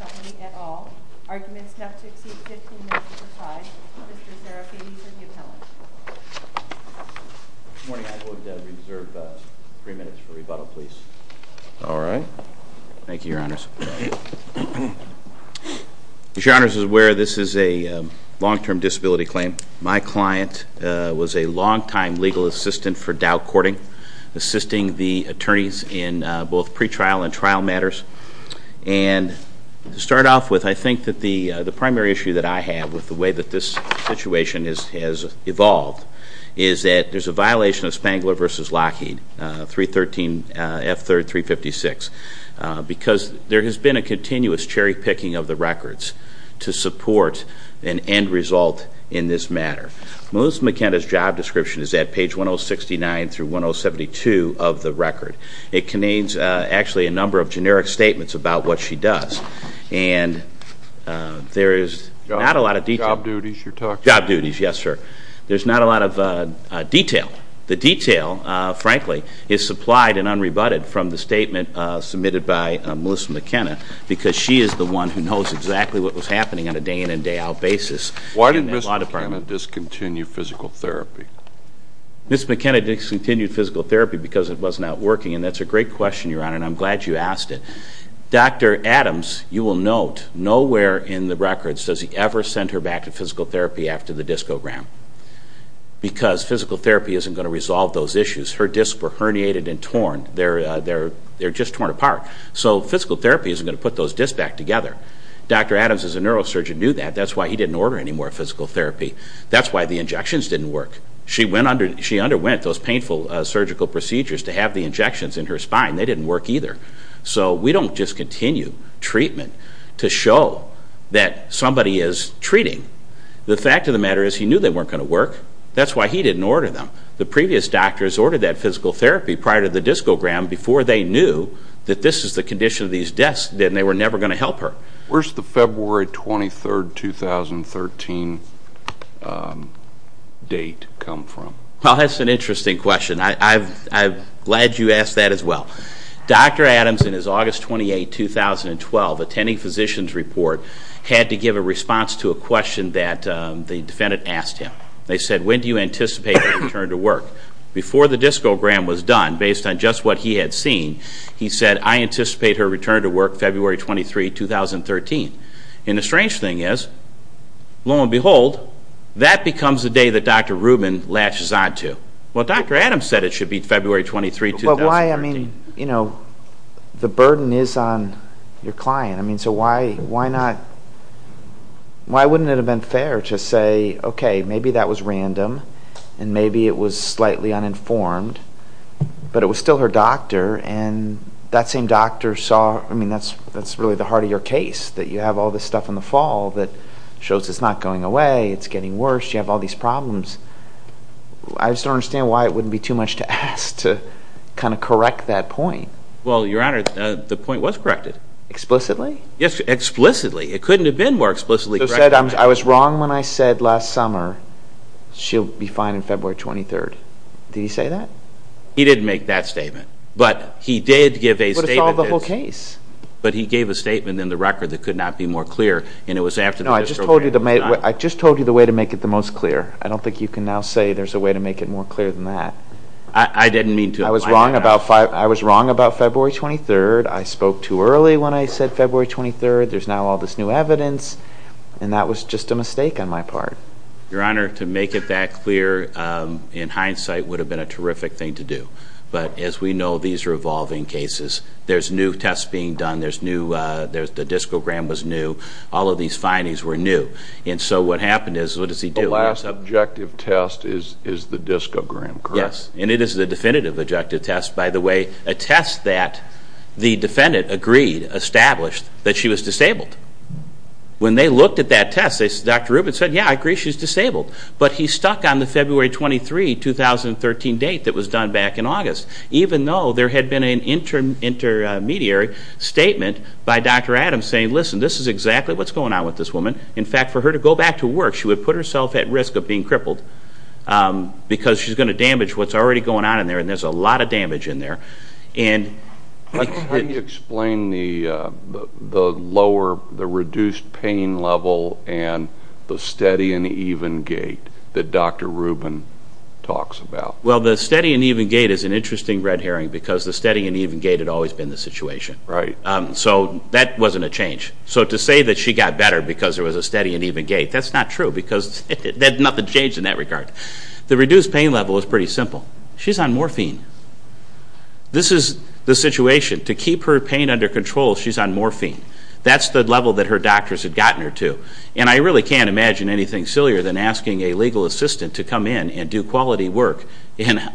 Company, et al. Arguments not to exceed 15 minutes are tied. Mr. Serafini for the appellant. Good morning. I'd like to reserve three minutes for rebuttal, please. All right. Thank you, Your Honors. As Your Honors is aware, this is a long-term disability claim. My client was a long-time legal assistant for Dow Courting. Assisting the attorneys in both pre-trial and trial matters. And to start off with, I think that the primary issue that I have with the way that this situation has evolved is that there's a violation of Spangler v. Lockheed, 313 F3rd 356, because there has been a continuous cherry-picking of the records to support an end result in this matter. Melissa McKenna's job description is at page 1069 through 1072 of the record. It contains actually a number of generic statements about what she does. And there is not a lot of detail. Job duties, yes sir. There's not a lot of detail. The detail, frankly, is supplied and unrebutted from the statement submitted by Melissa McKenna, because she is the one who knows exactly what was happening on a day-in and day-out basis. Why didn't Ms. McKenna discontinue physical therapy? Ms. McKenna discontinued physical therapy because it was not working, and that's a great question, Your Honor, and I'm glad you asked it. Dr. Adams, you will note, nowhere in the records does he ever send her back to physical therapy after the discogram. Because physical therapy isn't going to resolve those issues. Her discs were herniated and torn. They're just torn apart. So physical therapy isn't going to put those discs back together. Dr. Adams, as a neurosurgeon, knew that. That's why he didn't order any more physical therapy. That's why the injections didn't work. She underwent those painful surgical procedures to have the injections in her spine. They didn't work either. So we don't just continue treatment to show that somebody is treating. The fact of the matter is he knew they weren't going to work. That's why he didn't order them. The previous doctors ordered that physical therapy prior to the discogram before they knew that this is the condition of these discs and they were never going to help her. Where's the February 23, 2013 date come from? Well, that's an interesting question. I'm glad you asked that as well. Dr. Adams, in his August 28, 2012 attending physician's report, had to give a response to a question that the defendant asked him. They said, when do you anticipate her return to work? Before the discogram was done, based on just what he had seen, he said, I anticipate her return to work February 23, 2013. And the strange thing is, lo and behold, that becomes the day that Dr. Rubin latches on to. Well, Dr. Adams said it should be February 23, 2013. The burden is on your client. So why not, why wouldn't it have been fair to say, okay, maybe that was random, and maybe it was slightly uninformed, but it was still her doctor, and that same doctor saw, I mean, that's really the heart of your case, that you have all this stuff in the fall that shows it's not going away, it's getting worse, you have all these problems. I just don't understand why it wouldn't be too much to ask to kind of correct that point. Well, Your Honor, the point was corrected. Explicitly? Yes, explicitly. It couldn't have been more explicitly corrected. So he said, I was wrong when I said last summer, she'll be fine on February 23. Did he say that? He didn't make that statement. But he did give a statement. But it's all the whole case. But he gave a statement in the record that could not be more clear, and it was after the disturbance. No, I just told you the way to make it the most clear. I don't think you can now say there's a way to make it more clear than that. I didn't mean to. I was wrong about February 23. I spoke too early when I said February 23. There's now all this new evidence, and that was just a mistake on my part. Your Honor, to make it that clear in hindsight would have been a terrific thing to do. But as we know, these are evolving cases. There's new tests being done. The discogram was new. All of these findings were new. And so what happened is, what does he do? The last objective test is the discogram, correct? Yes, and it is the definitive objective test. By the way, a test that the defendant agreed, established, that she was disabled. When they looked at that test, Dr. Rubin said, yeah, I agree, she's disabled. But he stuck on the February 23, 2013 date that was done back in August, even though there had been an intermediary statement by Dr. Adams saying, listen, this is exactly what's going on with this woman. In fact, for her to go back to work, she would put herself at risk of being crippled because she's going to damage what's already going on in there, and there's a lot of damage in there. How do you explain the reduced pain level and the steady and even gait that Dr. Rubin talks about? Well, the steady and even gait is an interesting red herring because the steady and even gait had always been the situation. So that wasn't a change. So to say that she got better because there was a steady and even gait, that's not true because nothing changed in that regard. The reduced pain level is pretty simple. She's on morphine. This is the situation. To keep her pain under control, she's on morphine. That's the level that her doctors had gotten her to. And I really can't imagine anything sillier than asking a legal assistant to come in and do quality work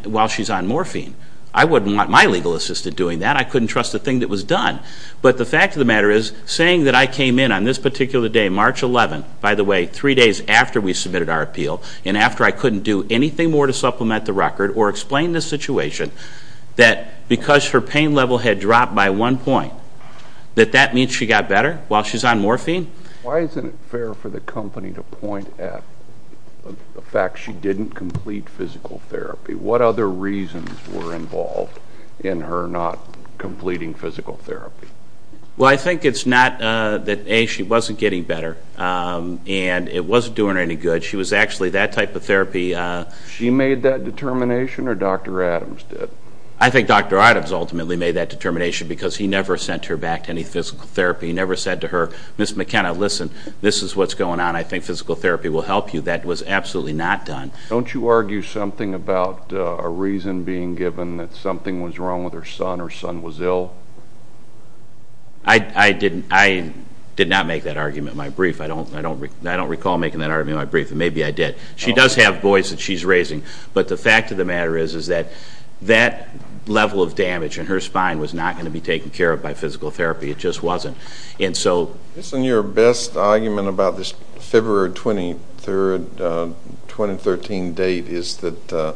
while she's on morphine. I wouldn't want my legal assistant doing that. I couldn't trust a thing that was done. But the fact of the matter is, saying that I came in on this particular day, March 11th, by the way, three days after we submitted our appeal and after I couldn't do anything more to supplement the record or explain the situation, that because her pain level had dropped by one point, that that means she got better while she's on morphine? Why isn't it fair for the company to point at the fact she didn't complete physical therapy? What other reasons were involved in her not completing physical therapy? Well, I think it's not that, A, she wasn't getting better and it wasn't doing her any good. She was actually, that type of therapy... She made that determination or Dr. Adams did? I think Dr. Adams ultimately made that determination because he never sent her back to any physical therapy. He never said to her, Ms. McKenna, listen, this is what's going on. I think physical therapy will help you. That was absolutely not done. Don't you argue something about a reason being given that something was wrong with her son or son was ill? I did not make that argument in my brief. I don't recall making that argument in my brief, and maybe I did. She does have boys that she's raising, but the fact of the matter is that that level of damage in her spine was not going to be taken care of by physical therapy. It just wasn't. Isn't your best argument about this February 23, 2013 date is that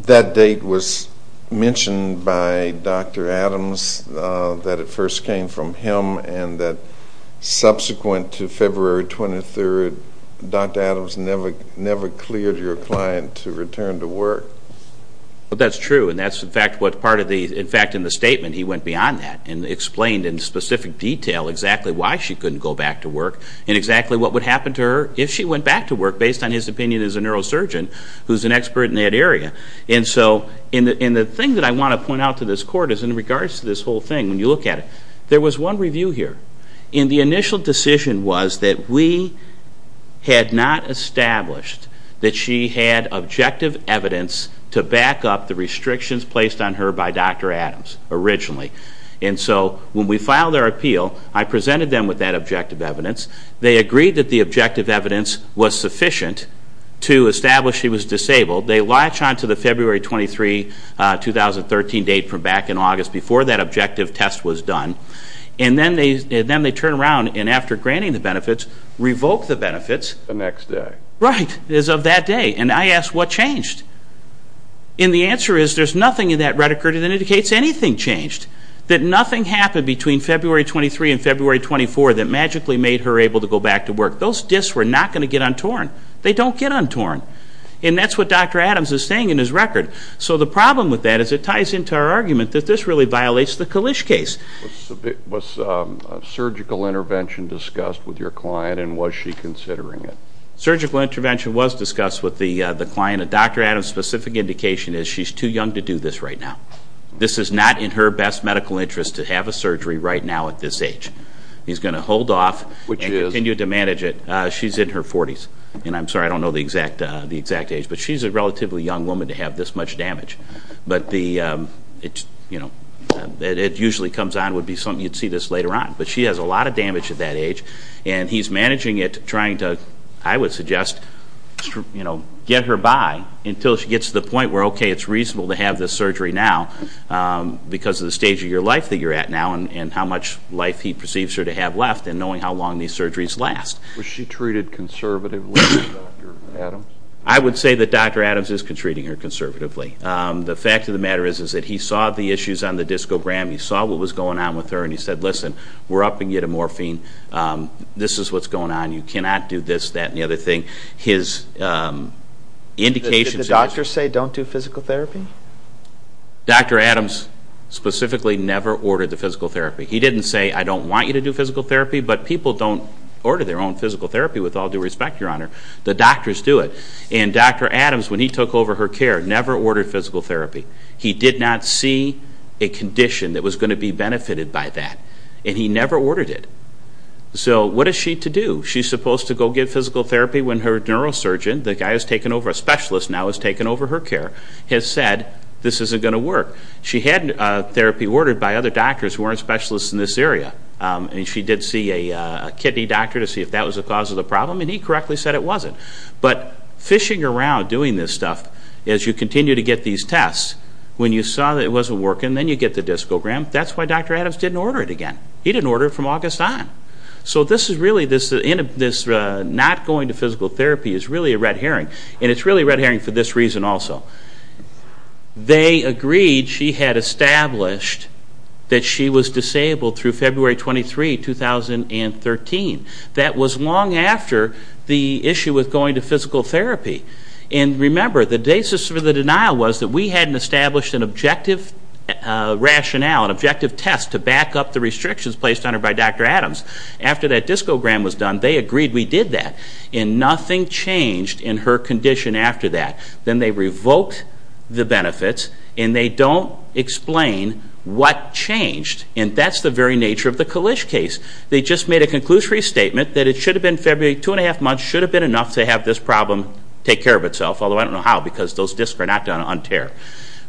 that date was mentioned by Dr. Adams that it first came from him and that subsequent to February 23, Dr. Adams never cleared your client to return to work? That's true, and in fact in the statement he went beyond that and explained in specific detail exactly why she couldn't go back to work and exactly what would happen to her if she went back to work based on his opinion as a neurosurgeon who's an expert in that area. The thing that I want to point out to this Court is in regards to this whole thing, when you look at it, there was one review here. The initial decision was that we had not established that she had objective evidence to back up the restrictions placed on her by Dr. Adams originally. When we filed our appeal, I presented them with that objective evidence. They agreed that the objective evidence was sufficient to establish she was disabled. They latch onto the February 23, 2013 date from back in August before that objective test was done, and then they turn around and after granting the benefits, revoke the benefits of that day. And I ask, what changed? And the answer is there's nothing in that reticulate that indicates anything changed. That nothing happened between February 23 and February 24 that magically made her able to go back to work. Those disks were not going to get untorn. They don't get untorn. And that's what Dr. Adams is saying in his record. So the problem with that is it ties into our argument that this really violates the Kalish case. Was surgical intervention discussed with your client and was she considering it? Surgical intervention was discussed with the client. A Dr. Adams specific indication is she's too young to do this right now. This is not in her best medical interest to have a surgery right now at this age. He's going to hold off and continue to manage it. She's in her 40s. And I'm sorry, I don't know the exact age, but she's a relatively young woman to have this much damage. But it usually comes on would be something you'd see this later on. But she has a lot of damage at that age. And he's managing it, trying to, I would suggest, get her by until she gets to the point where, okay, it's reasonable to have this surgery now because of the stage of your life that you're at now and how much life he perceives her to have left and knowing how long these surgeries last. Was she treated conservatively by Dr. Adams? I would say that Dr. Adams is treating her conservatively. The fact of the matter is that he saw the issues on the discogram. He saw what was going on with her and he said, listen, we're upping you to morphine. This is what's going on. You cannot do this, that, and the other thing. Did the doctors say don't do physical therapy? Dr. Adams specifically never ordered the physical therapy. He didn't say, I don't want you to do physical therapy, but people don't order their own physical therapy with all due respect, Your Honor. The doctors do it. And Dr. Adams, when he took over her care, never ordered physical therapy. He did not see a condition that was going to be benefited by that. And he never ordered it. So what is she to do? She's supposed to go get physical therapy when her neurosurgeon, the guy who's taken over, a specialist now who's taken over her care, has said this isn't going to work. She had therapy ordered by other doctors who weren't specialists in this area. And she did see a kidney doctor to see if that was the cause of the problem, and he correctly said it wasn't. But fishing around doing this stuff as you continue to get these tests, when you saw that it wasn't working, then you get the discogram, that's why Dr. Adams didn't order it again. He didn't order it from August on. So this is really, this not going to physical therapy is really a red herring. And it's really a red herring for this reason also. They agreed she had established that she was disabled through February 23, 2013. That was long after the issue with going to physical therapy. And remember, the basis for the denial was that we hadn't established an objective rationale, an objective test to back up the restrictions placed on her by Dr. Adams. After that discogram was done, they agreed we did that, and nothing changed in her condition after that. Then they revoked the benefits, and they don't explain what changed. And that's the very nature of the Kalish case. They just made a conclusive restatement that it should have been February, two and a half months, should have been enough to have this problem take care of itself, although I don't know how because those discs are not going to un-tear.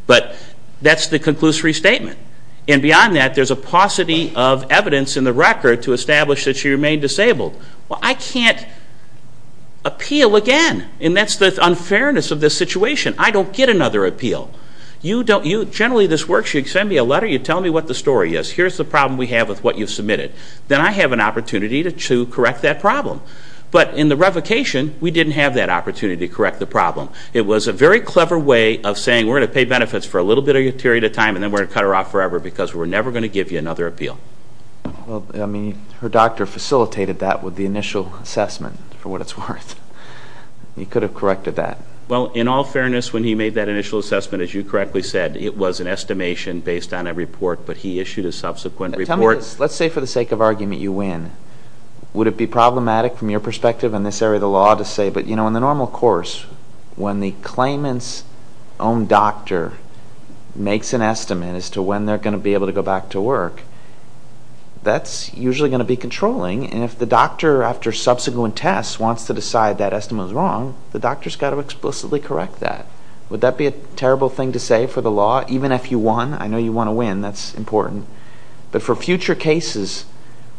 But that's the conclusive restatement. And beyond that, there's a paucity of evidence in the record to establish that she remained disabled. Well, I can't appeal again. And that's the unfairness of this situation. I don't get another appeal. Generally, this works. You send me a letter. You tell me what the story is. Here's the problem we have with what you've submitted. Then I have an opportunity to correct that problem. But in the revocation, we didn't have that opportunity to correct the problem. It was a very clever way of saying we're going to pay benefits for a little bit of a period of time, and then we're going to cut her off forever because we're never going to give you another appeal. Well, I mean, her doctor facilitated that with the initial assessment for what it's worth. You could have corrected that. Well, in all fairness, when he made that initial assessment, as you correctly said, it was an estimation based on a report, but he issued a subsequent report. Let's say for the sake of argument you win. Would it be problematic from your perspective in this area of the law to say, but, you know, in the normal course, when the claimant's own doctor makes an estimate as to when they're going to be able to go back to work, that's usually going to be controlling. And if the doctor, after subsequent tests, wants to decide that estimate is wrong, the doctor's got to explicitly correct that. Would that be a terrible thing to say for the law, even if you won? I know you want to win. That's important. But for future cases,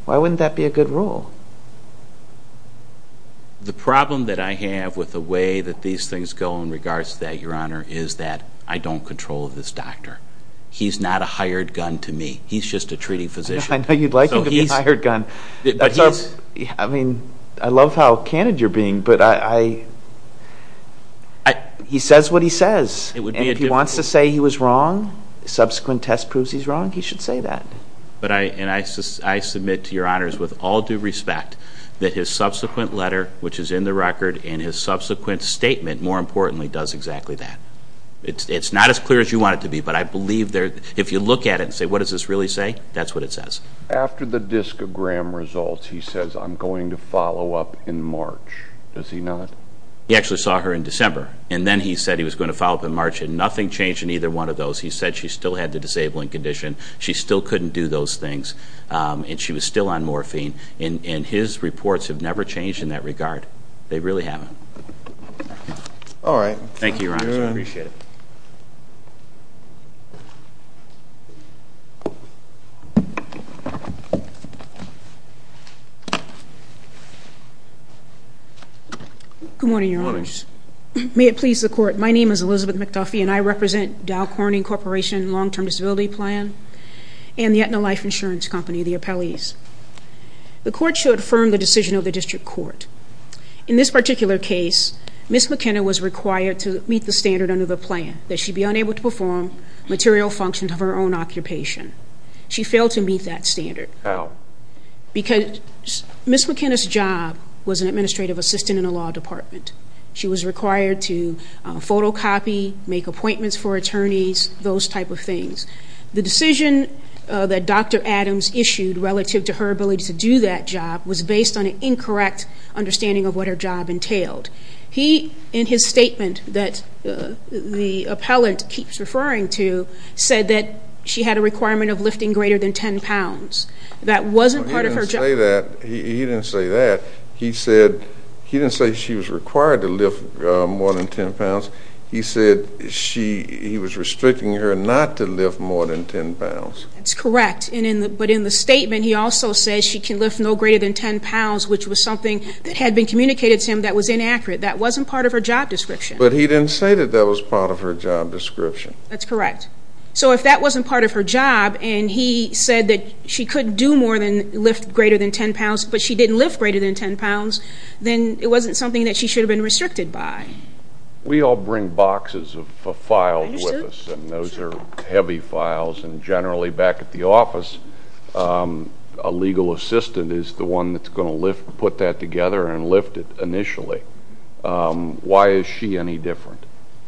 why wouldn't that be a good rule? The problem that I have with the way that these things go in regards to that, Your Honor, is that I don't control this doctor. He's not a hired gun to me. He's just a treating physician. I mean, I love how candid you're being, but he says what he says. And if he wants to say he was wrong, subsequent tests proves he's wrong, he should say that. And I submit to Your Honors, with all due respect, that his subsequent letter, which is in the record, and his subsequent statement, more importantly, does exactly that. It's not as clear as you want it to be, but I believe if you look at it and say, what does this really say, that's what it says. After the discogram results, he says, I'm going to follow up in March. Does he not? He actually saw her in December, and then he said he was going to follow up in March. And nothing changed in either one of those. He said she still had the disabling condition. She still couldn't do those things, and she was still on morphine. And his reports have never changed in that regard. They really haven't. Thank you, Your Honors. I appreciate it. Good morning, Your Honors. May it please the Court, my name is Elizabeth McDuffie, and I represent Dow Corning Corporation Long-Term Disability Plan and the Aetna Life Insurance Company, the appellees. The Court should affirm the decision of the District Court. In this particular case, Ms. McKenna was required to meet the standard under the plan that she be unable to perform material functions of her own occupation. She failed to meet that standard. How? Because Ms. McKenna's job was an administrative assistant in a law department. She was required to photocopy, make appointments for attorneys, those type of things. The decision that Dr. Adams issued relative to her ability to do that job was based on an incorrect understanding of what her job entailed. He, in his statement that the That wasn't part of her job. He didn't say she was required to lift more than ten pounds. He said he was restricting her not to lift more than ten pounds. That's correct. But in the statement he also says she can lift no greater than ten pounds, which was something that had been communicated to him that was inaccurate. That wasn't part of her job description. But he didn't say that that was part of her job description. That's correct. So if that wasn't part of her job, and he said that she couldn't do more than lift greater than ten pounds, but she didn't lift greater than ten pounds, then it wasn't something that she should have been restricted by. We all bring boxes of files with us, and those are heavy files, and generally back at the office, a legal assistant is the one that's going to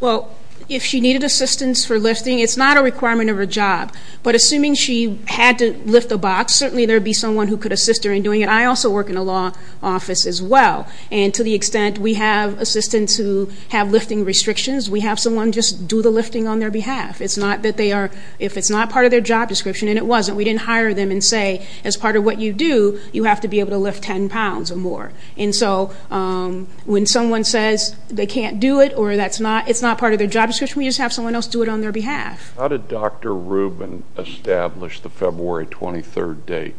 Well, if she needed assistance for lifting, it's not a requirement of her job. But assuming she had to lift a box, certainly there would be someone who could assist her in doing it. I also work in a law office as well, and to the extent we have assistants who have lifting restrictions, we have someone just do the lifting on their behalf. If it's not part of their job description, and it wasn't, we didn't hire them and say as part of what you do, you have to be able to lift ten pounds or more. And so when someone says they can't do it, or it's not part of their job description, we just have someone else do it on their behalf. How did Dr. Rubin establish the February 23rd date?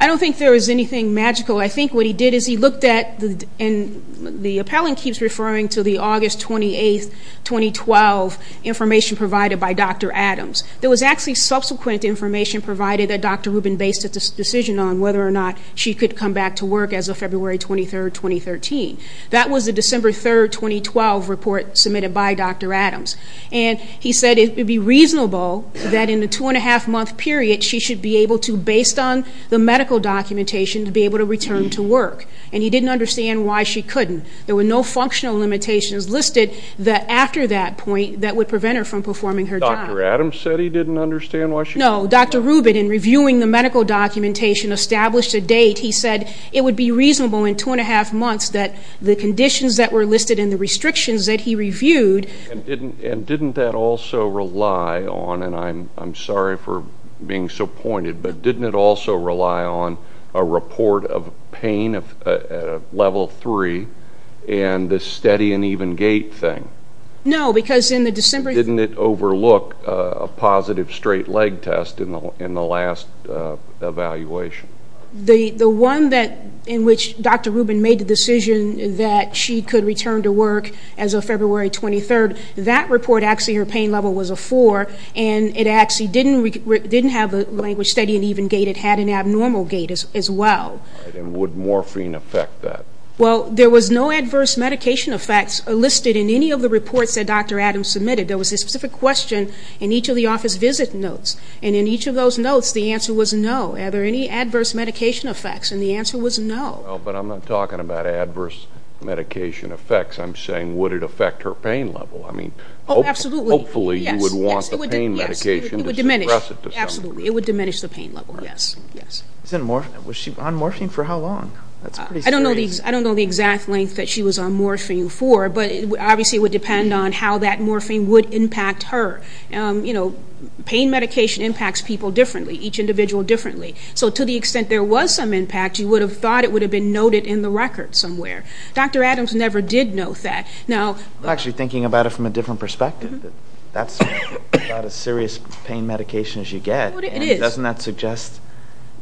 I don't think there was anything magical. I think what he did is he looked at, and the appellant keeps referring to the August 28th, 2012 information provided by Dr. Adams. There was actually subsequent information provided that Dr. Rubin based its decision on whether or not she could come back to work as of February 23rd, 2013. That was the December 3rd, 2012 report submitted by Dr. Adams. And he said it would be reasonable that in the two-and-a-half-month period, she should be able to, based on the medical documentation, be able to return to work. And he didn't understand why she couldn't. There were no functional limitations listed after that point that would prevent her from performing her job. Dr. Adams said he didn't understand why she couldn't. No, Dr. Rubin, in reviewing the medical documentation, established a date. He said it would be reasonable in two-and-a-half months that the conditions that were listed and the restrictions that he reviewed... And didn't that also rely on, and I'm sorry for being so pointed, but didn't it also rely on a report of pain at a level three and the steady and even gait thing? No, because in the December... Didn't it overlook a positive straight leg test in the last evaluation? The one in which Dr. Rubin made the decision that she could return to work as of February 23rd, that report actually her pain level was a four, and it actually didn't have a language steady and even gait. It had an abnormal gait as well. And would morphine affect that? Well, there was no adverse medication effects listed in any of the reports that Dr. Adams submitted. There was a specific question in each of the office visit notes, and in each of those notes, the answer was no. Are there any adverse medication effects? And the answer was no. Well, but I'm not talking about adverse medication effects. I'm saying would it affect her pain level? I mean, hopefully you would want the pain medication to suppress it to some degree. Absolutely. It would diminish the pain level, yes. Was she on morphine for how long? I don't know the exact length that she was on morphine for, but obviously it would depend on how that morphine would impact her. Pain medication impacts people differently, each individual differently. So to the extent there was some impact, you would have thought it would have been noted in the record somewhere. Dr. Adams never did note that. I'm actually thinking about it from a different perspective. That's about as serious pain medication as you get. Doesn't that suggest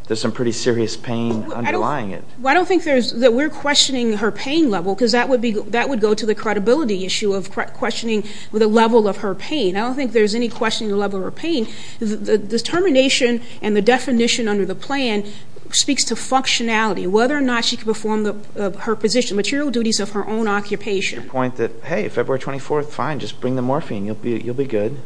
there's some pretty serious pain underlying it? I don't think that we're questioning her pain level, because that would go to the credibility issue of questioning the level of her pain. I don't think there's any question of the level of her pain. The termination and the definition under the plan speaks to functionality, whether or not she could perform her position, material duties of her own occupation. Your point that, hey, February 24th, fine, just bring the morphine, you'll be good.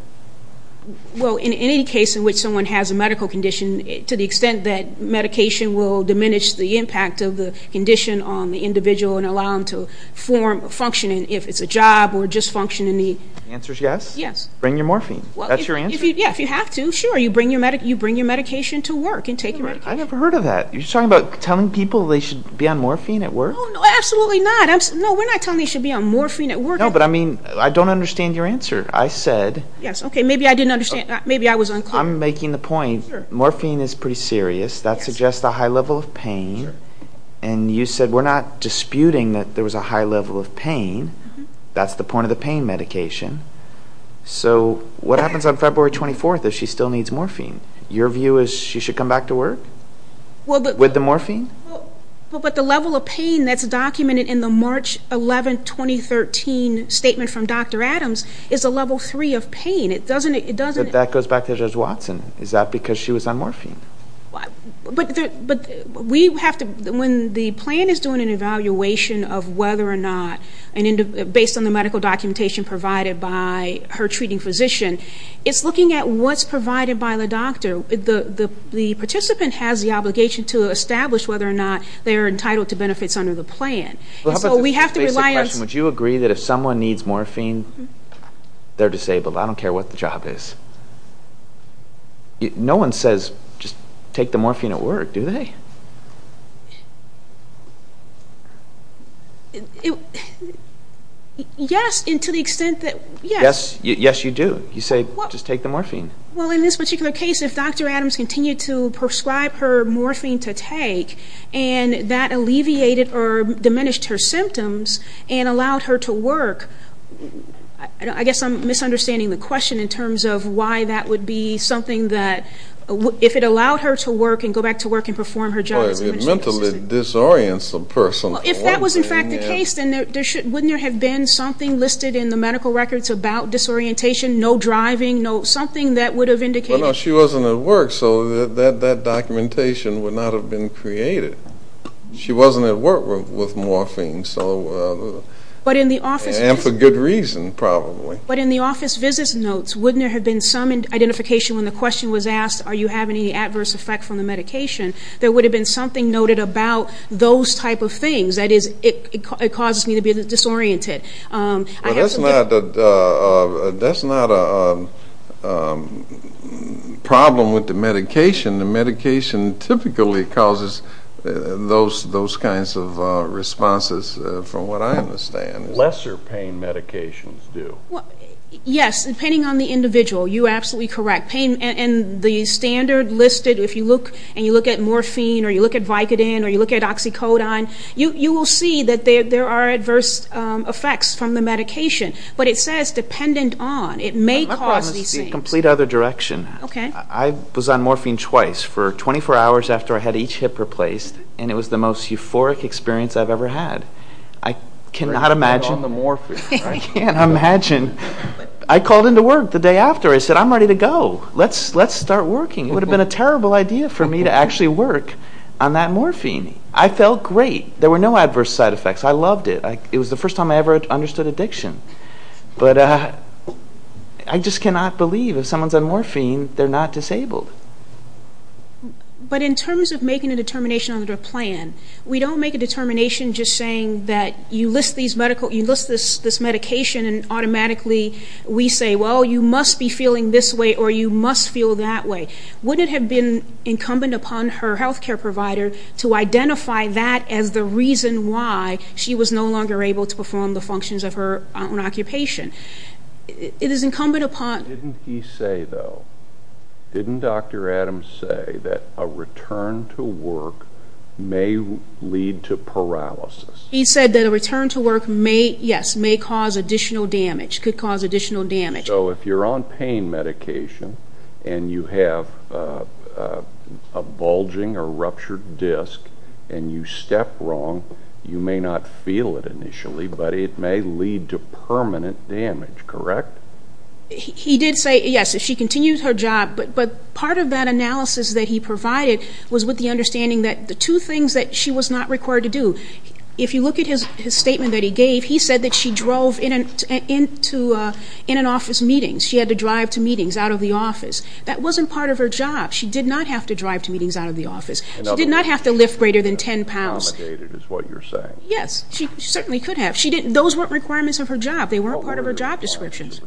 Well, in any case in which someone has a medical condition, to the extent that medication will diminish the impact of the condition on the individual and allow them to form, function, if it's a job or just function in need. The answer is yes? Yes. Bring your morphine. That's your answer? Yeah, if you have to, sure, you bring your medication to work and take your medication. So what happens on February 24th if she still needs morphine? Your view is she should come back to work with the morphine? But the level of pain that's documented in the March 11, 2013 statement from Dr. Adams is a level 3 of pain. That goes back to Judge Watson. Is that because she was on morphine? But we have to, when the plan is doing an evaluation of whether or not, based on the medical documentation provided by her treating physician, it's looking at what's provided by the doctor. The participant has the obligation to establish whether or not they are entitled to benefits under the plan. Would you agree that if someone needs morphine, they're disabled, I don't care what the job is? No one says, just take the morphine at work, do they? Yes, and to the extent that, yes. Yes, you do. You say, just take the morphine. Well, in this particular case, if Dr. Adams continued to prescribe her morphine to take, and that alleviated or diminished her symptoms and allowed her to work, I guess I'm misunderstanding the question in terms of why that would be something that, if it allowed her to work and go back to work and perform her job. If that was in fact the case, then wouldn't there have been something listed in the medical records about disorientation, no driving, something that would have indicated? Well, no, she wasn't at work, so that documentation would not have been created. She wasn't at work with morphine, and for good reason, probably. But in the office visits notes, wouldn't there have been some identification when the question was asked, are you having any adverse effect from the medication, there would have been something noted about those type of things. That is, it causes me to be disoriented. Well, that's not a problem with the medication. The medication typically causes those kinds of responses, from what I understand. Lesser pain medications do. Yes, depending on the individual, you're absolutely correct. And the standard listed, if you look at morphine, or you look at Vicodin, or you look at Oxycodone, you will see that there are adverse effects from the medication. But it says, dependent on. It may cause these things. My problem is the complete other direction. I was on morphine twice, for 24 hours after I had each hip replaced, and it was the most euphoric experience I've ever had. I cannot imagine. I called into work the day after. I said, I'm ready to go. Let's start working. It would have been a terrible idea for me to actually work on that morphine. I felt great. There were no adverse side effects. I loved it. It was the first time I ever understood addiction. But I just cannot believe, if someone's on morphine, they're not disabled. But in terms of making a determination under a plan, we don't make a determination just saying that you list this medication, and automatically we say, well, you must be feeling this way, or you must feel that way. Wouldn't it have been incumbent upon her health care provider to identify that as the reason why she was no longer able to perform the functions of her own occupation? Didn't he say, though, didn't Dr. Adams say that a return to work may lead to paralysis? He said that a return to work may, yes, may cause additional damage, could cause additional damage. So if you're on pain medication, and you have a bulging or ruptured disc, and you step wrong, you may not feel it initially, but it may lead to permanent damage, correct? He did say, yes, if she continues her job, but part of that analysis that he provided was with the understanding that the two things that she was not required to do, if you look at his statement that he gave, he said that she drove in an office meeting. She had to drive to meetings out of the office. That wasn't part of her job. She did not have to drive to meetings out of the office. She did not have to lift greater than 10 pounds. Yes, she certainly could have. Those weren't requirements of her job. They weren't part of her job descriptions.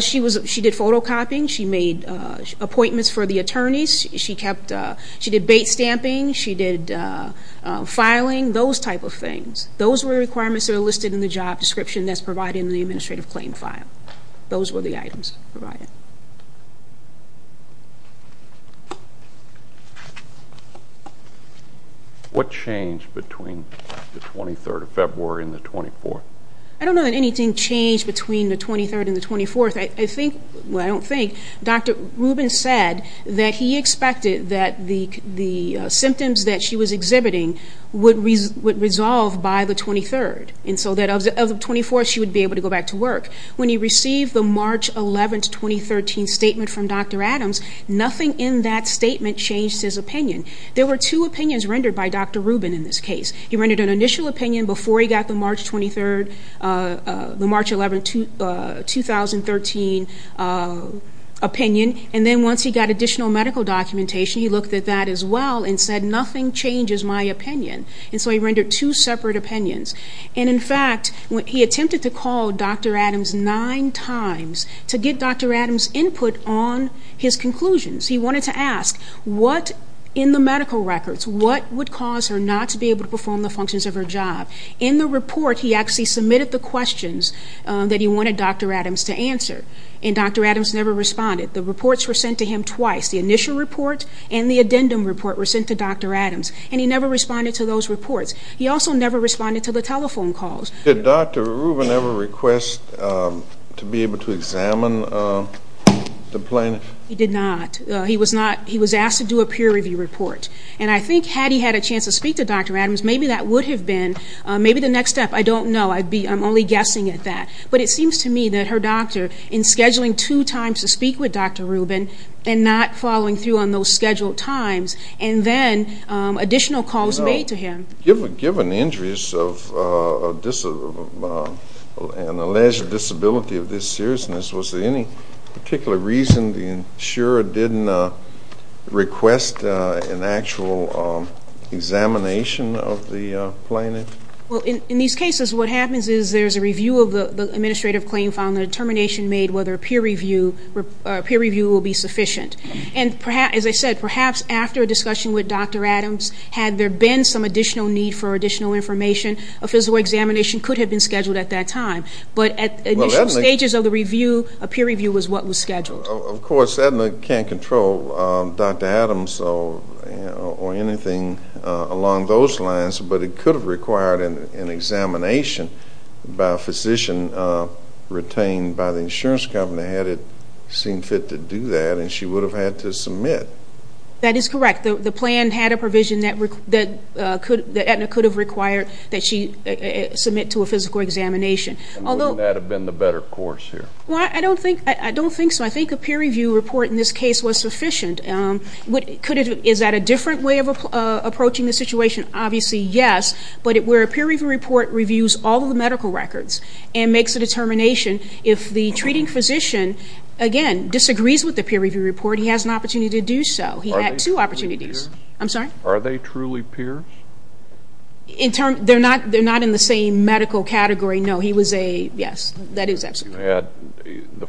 She did photocopying. She made appointments for the attorneys. She did bait stamping. She did filing, those type of things. Those were the requirements that are listed in the job description that's provided in the administrative claim file. Those were the items provided. What changed between the 23rd of February and the 24th? I don't know that anything changed between the 23rd and the 24th. I don't think. Dr. Rubin said that he expected that the symptoms that she was exhibiting would resolve by the 23rd, and so that of the 24th she would be able to go back to work. When he received the March 11th, 2013 statement from Dr. Adams, nothing in that statement changed his opinion. There were two opinions rendered by Dr. Rubin in this case. He rendered an initial opinion before he got the March 11th, 2013 opinion, and then once he got additional medical documentation, he looked at that as well and said, nothing changes my opinion, and so he rendered two separate opinions. In fact, he attempted to call Dr. Adams nine times to get Dr. Adams' input on his conclusions. He wanted to ask, what in the medical records, what would cause her not to be able to perform the functions of her job? In the report, he actually submitted the questions that he wanted Dr. Adams to answer, and Dr. Adams never responded. The reports were sent to him twice. The initial report and the addendum report were sent to Dr. Adams, and he never responded to those reports. He also never responded to the telephone calls. Did Dr. Rubin ever request to be able to examine the plaintiff? He did not. He was asked to do a peer review report, and I think had he had a chance to speak to Dr. Adams, maybe that would have been the next step. I don't know. I'm only guessing at that, but it seems to me that her doctor, in scheduling two times to speak with Dr. Rubin and not following through on those scheduled times, and then additional calls made to him. Given the injuries and alleged disability of this seriousness, was there any particular reason the insurer didn't request an actual examination of the plaintiff? In these cases, what happens is there's a review of the administrative claim file and a determination made whether a peer review will be sufficient. And as I said, perhaps after a discussion with Dr. Adams, had there been some additional need for additional information, a physical examination could have been scheduled at that time. But at the initial stages of the review, a peer review was what was scheduled. Of course, Aetna can't control Dr. Adams or anything along those lines, but it could have required an examination by a physician retained by the insurance company had it seemed fit to do that, and she would have had to submit. That is correct. The plan had a provision that Aetna could have required that she submit to a physical examination. Wouldn't that have been the better course here? I don't think so. I think a peer review report in this case was sufficient. Is that a different way of approaching the situation? Obviously, yes, but where a peer review report reviews all of the medical records and makes a determination, if the treating physician, again, disagrees with the peer review report, he has an opportunity to do so. He had two opportunities. Are they truly peers? They're not in the same medical category, no. The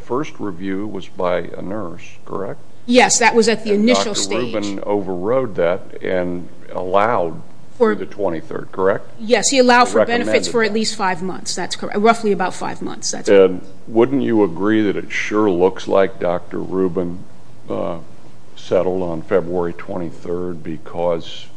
first review was by a nurse, correct? Yes, that was at the initial stage. Dr. Rubin overrode that and allowed for the 23rd, correct? Yes, he allowed for benefits for at least five months, roughly about five months. Wouldn't you agree that it sure looks like Dr. Rubin settled on February 23rd because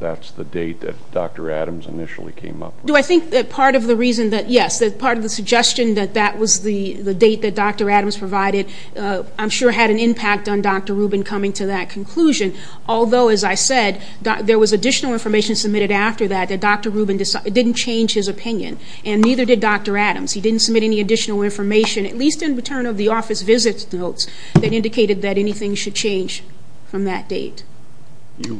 that's the date that Dr. Adams initially came up with? Yes, part of the suggestion that that was the date that Dr. Adams provided, I'm sure had an impact on Dr. Rubin coming to that conclusion. Although, as I said, there was additional information submitted after that that Dr. Rubin didn't change his opinion and neither did Dr. Adams. He didn't submit any additional information, at least in return of the office visit notes, that indicated that anything should change from that date. The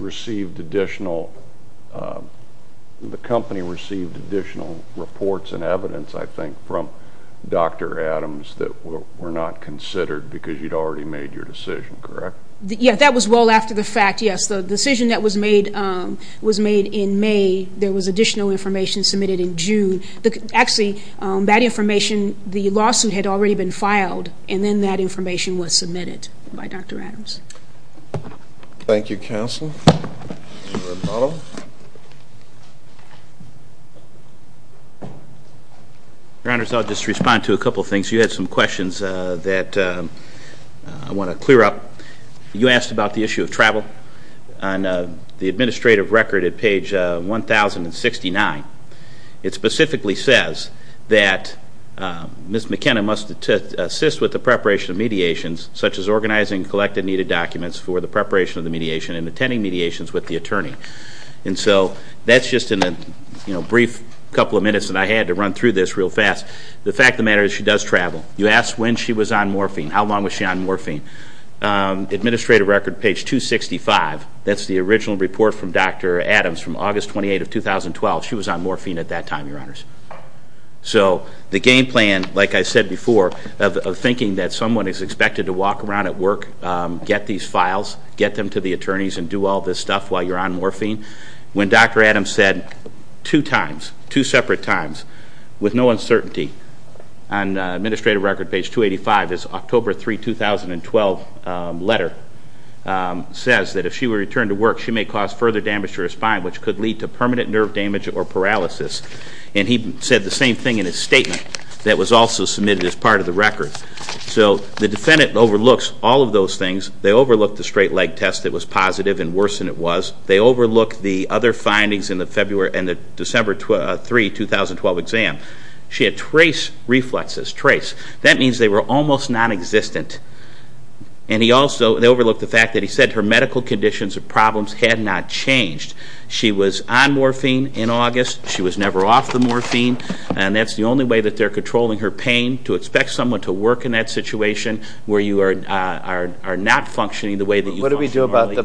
company received additional reports and evidence, I think, from Dr. Adams that were not considered because you'd already made your decision, correct? Yes, that was well after the fact, yes. The decision that was made in May, there was additional information submitted in June. Actually, that information, the lawsuit had already been filed, and then that information was submitted by Dr. Adams. Thank you, Counsel. Your Honors, I'll just respond to a couple of things. You had some questions that I want to clear up. You asked about the issue of travel. On the administrative record at page 1069, it specifically says that Ms. McKenna must assist with the preparation of mediations, such as organizing collected needed documents for the preparation of the mediation and attending mediations with the attorney. That's just in the brief couple of minutes that I had to run through this real fast. The fact of the matter is she does travel. You asked when she was on morphine. How long was she on morphine? Administrative record, page 265, that's the original report from Dr. Adams from August 28th of 2012. She was on morphine at that time, Your Honors. The game plan, like I said before, of thinking that someone is expected to walk around at work, get these files, get them to the attorneys and do all this stuff while you're on morphine. When Dr. Adams said two times, two separate times, with no uncertainty on administrative record, page 285, this October 3, 2012 letter says that if she were to return to work, she may cause further damage to her spine, which could lead to permanent nerve damage or paralysis. And he said the same thing in his statement that was also submitted as part of the record. So the defendant overlooks all of those things. They overlook the straight leg test that was positive and worse than it was. They overlook the other findings in the December 3, 2012 exam. She had trace reflexes, trace. That means they were almost non-existent. And they overlooked the fact that he said her medical conditions or problems had not changed. She was on morphine in August. She was never off the morphine. And that's the only way that they're controlling her pain to expect someone to work in that situation where you are not functioning the way that you function normally.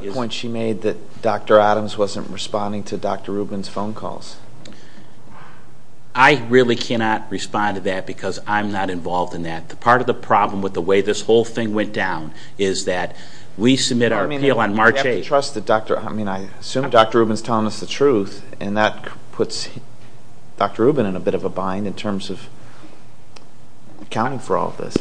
I really cannot respond to that because I'm not involved in that. Part of the problem with the way this whole thing went down is that we submit our appeal on March 8. I mean, I assume Dr. Rubin's telling us the truth. And that puts Dr. Rubin in a bit of a bind in terms of accounting for all of this.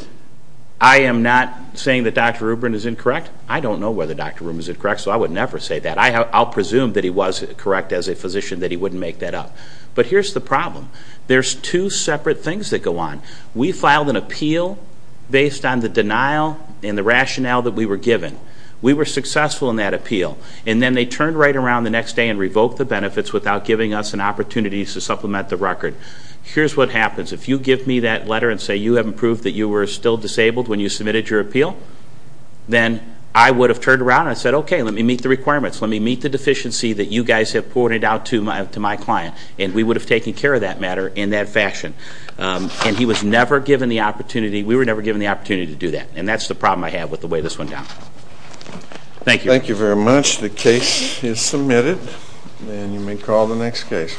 I am not saying that Dr. Rubin is incorrect. I don't know whether Dr. Rubin is incorrect, so I would never say that. I'll presume that he was correct as a physician that he wouldn't make that up. But here's the problem. There's two separate things that go on. We filed an appeal based on the denial and the rationale that we were given. We were successful in that appeal. And then they turned right around the next day and revoked the benefits without giving us an opportunity to supplement the record. Here's what happens. If you give me that letter and say you haven't proved that you were still disabled when you submitted your appeal, then I would have turned around and said, okay, let me meet the requirements. Let me meet the deficiency that you guys have pointed out to my client. And we would have taken care of that matter in that fashion. And he was never given the opportunity. We were never given the opportunity to do that. And that's the problem I have with the way this went down. Thank you. Thank you very much. The case is submitted. And you may call the next case.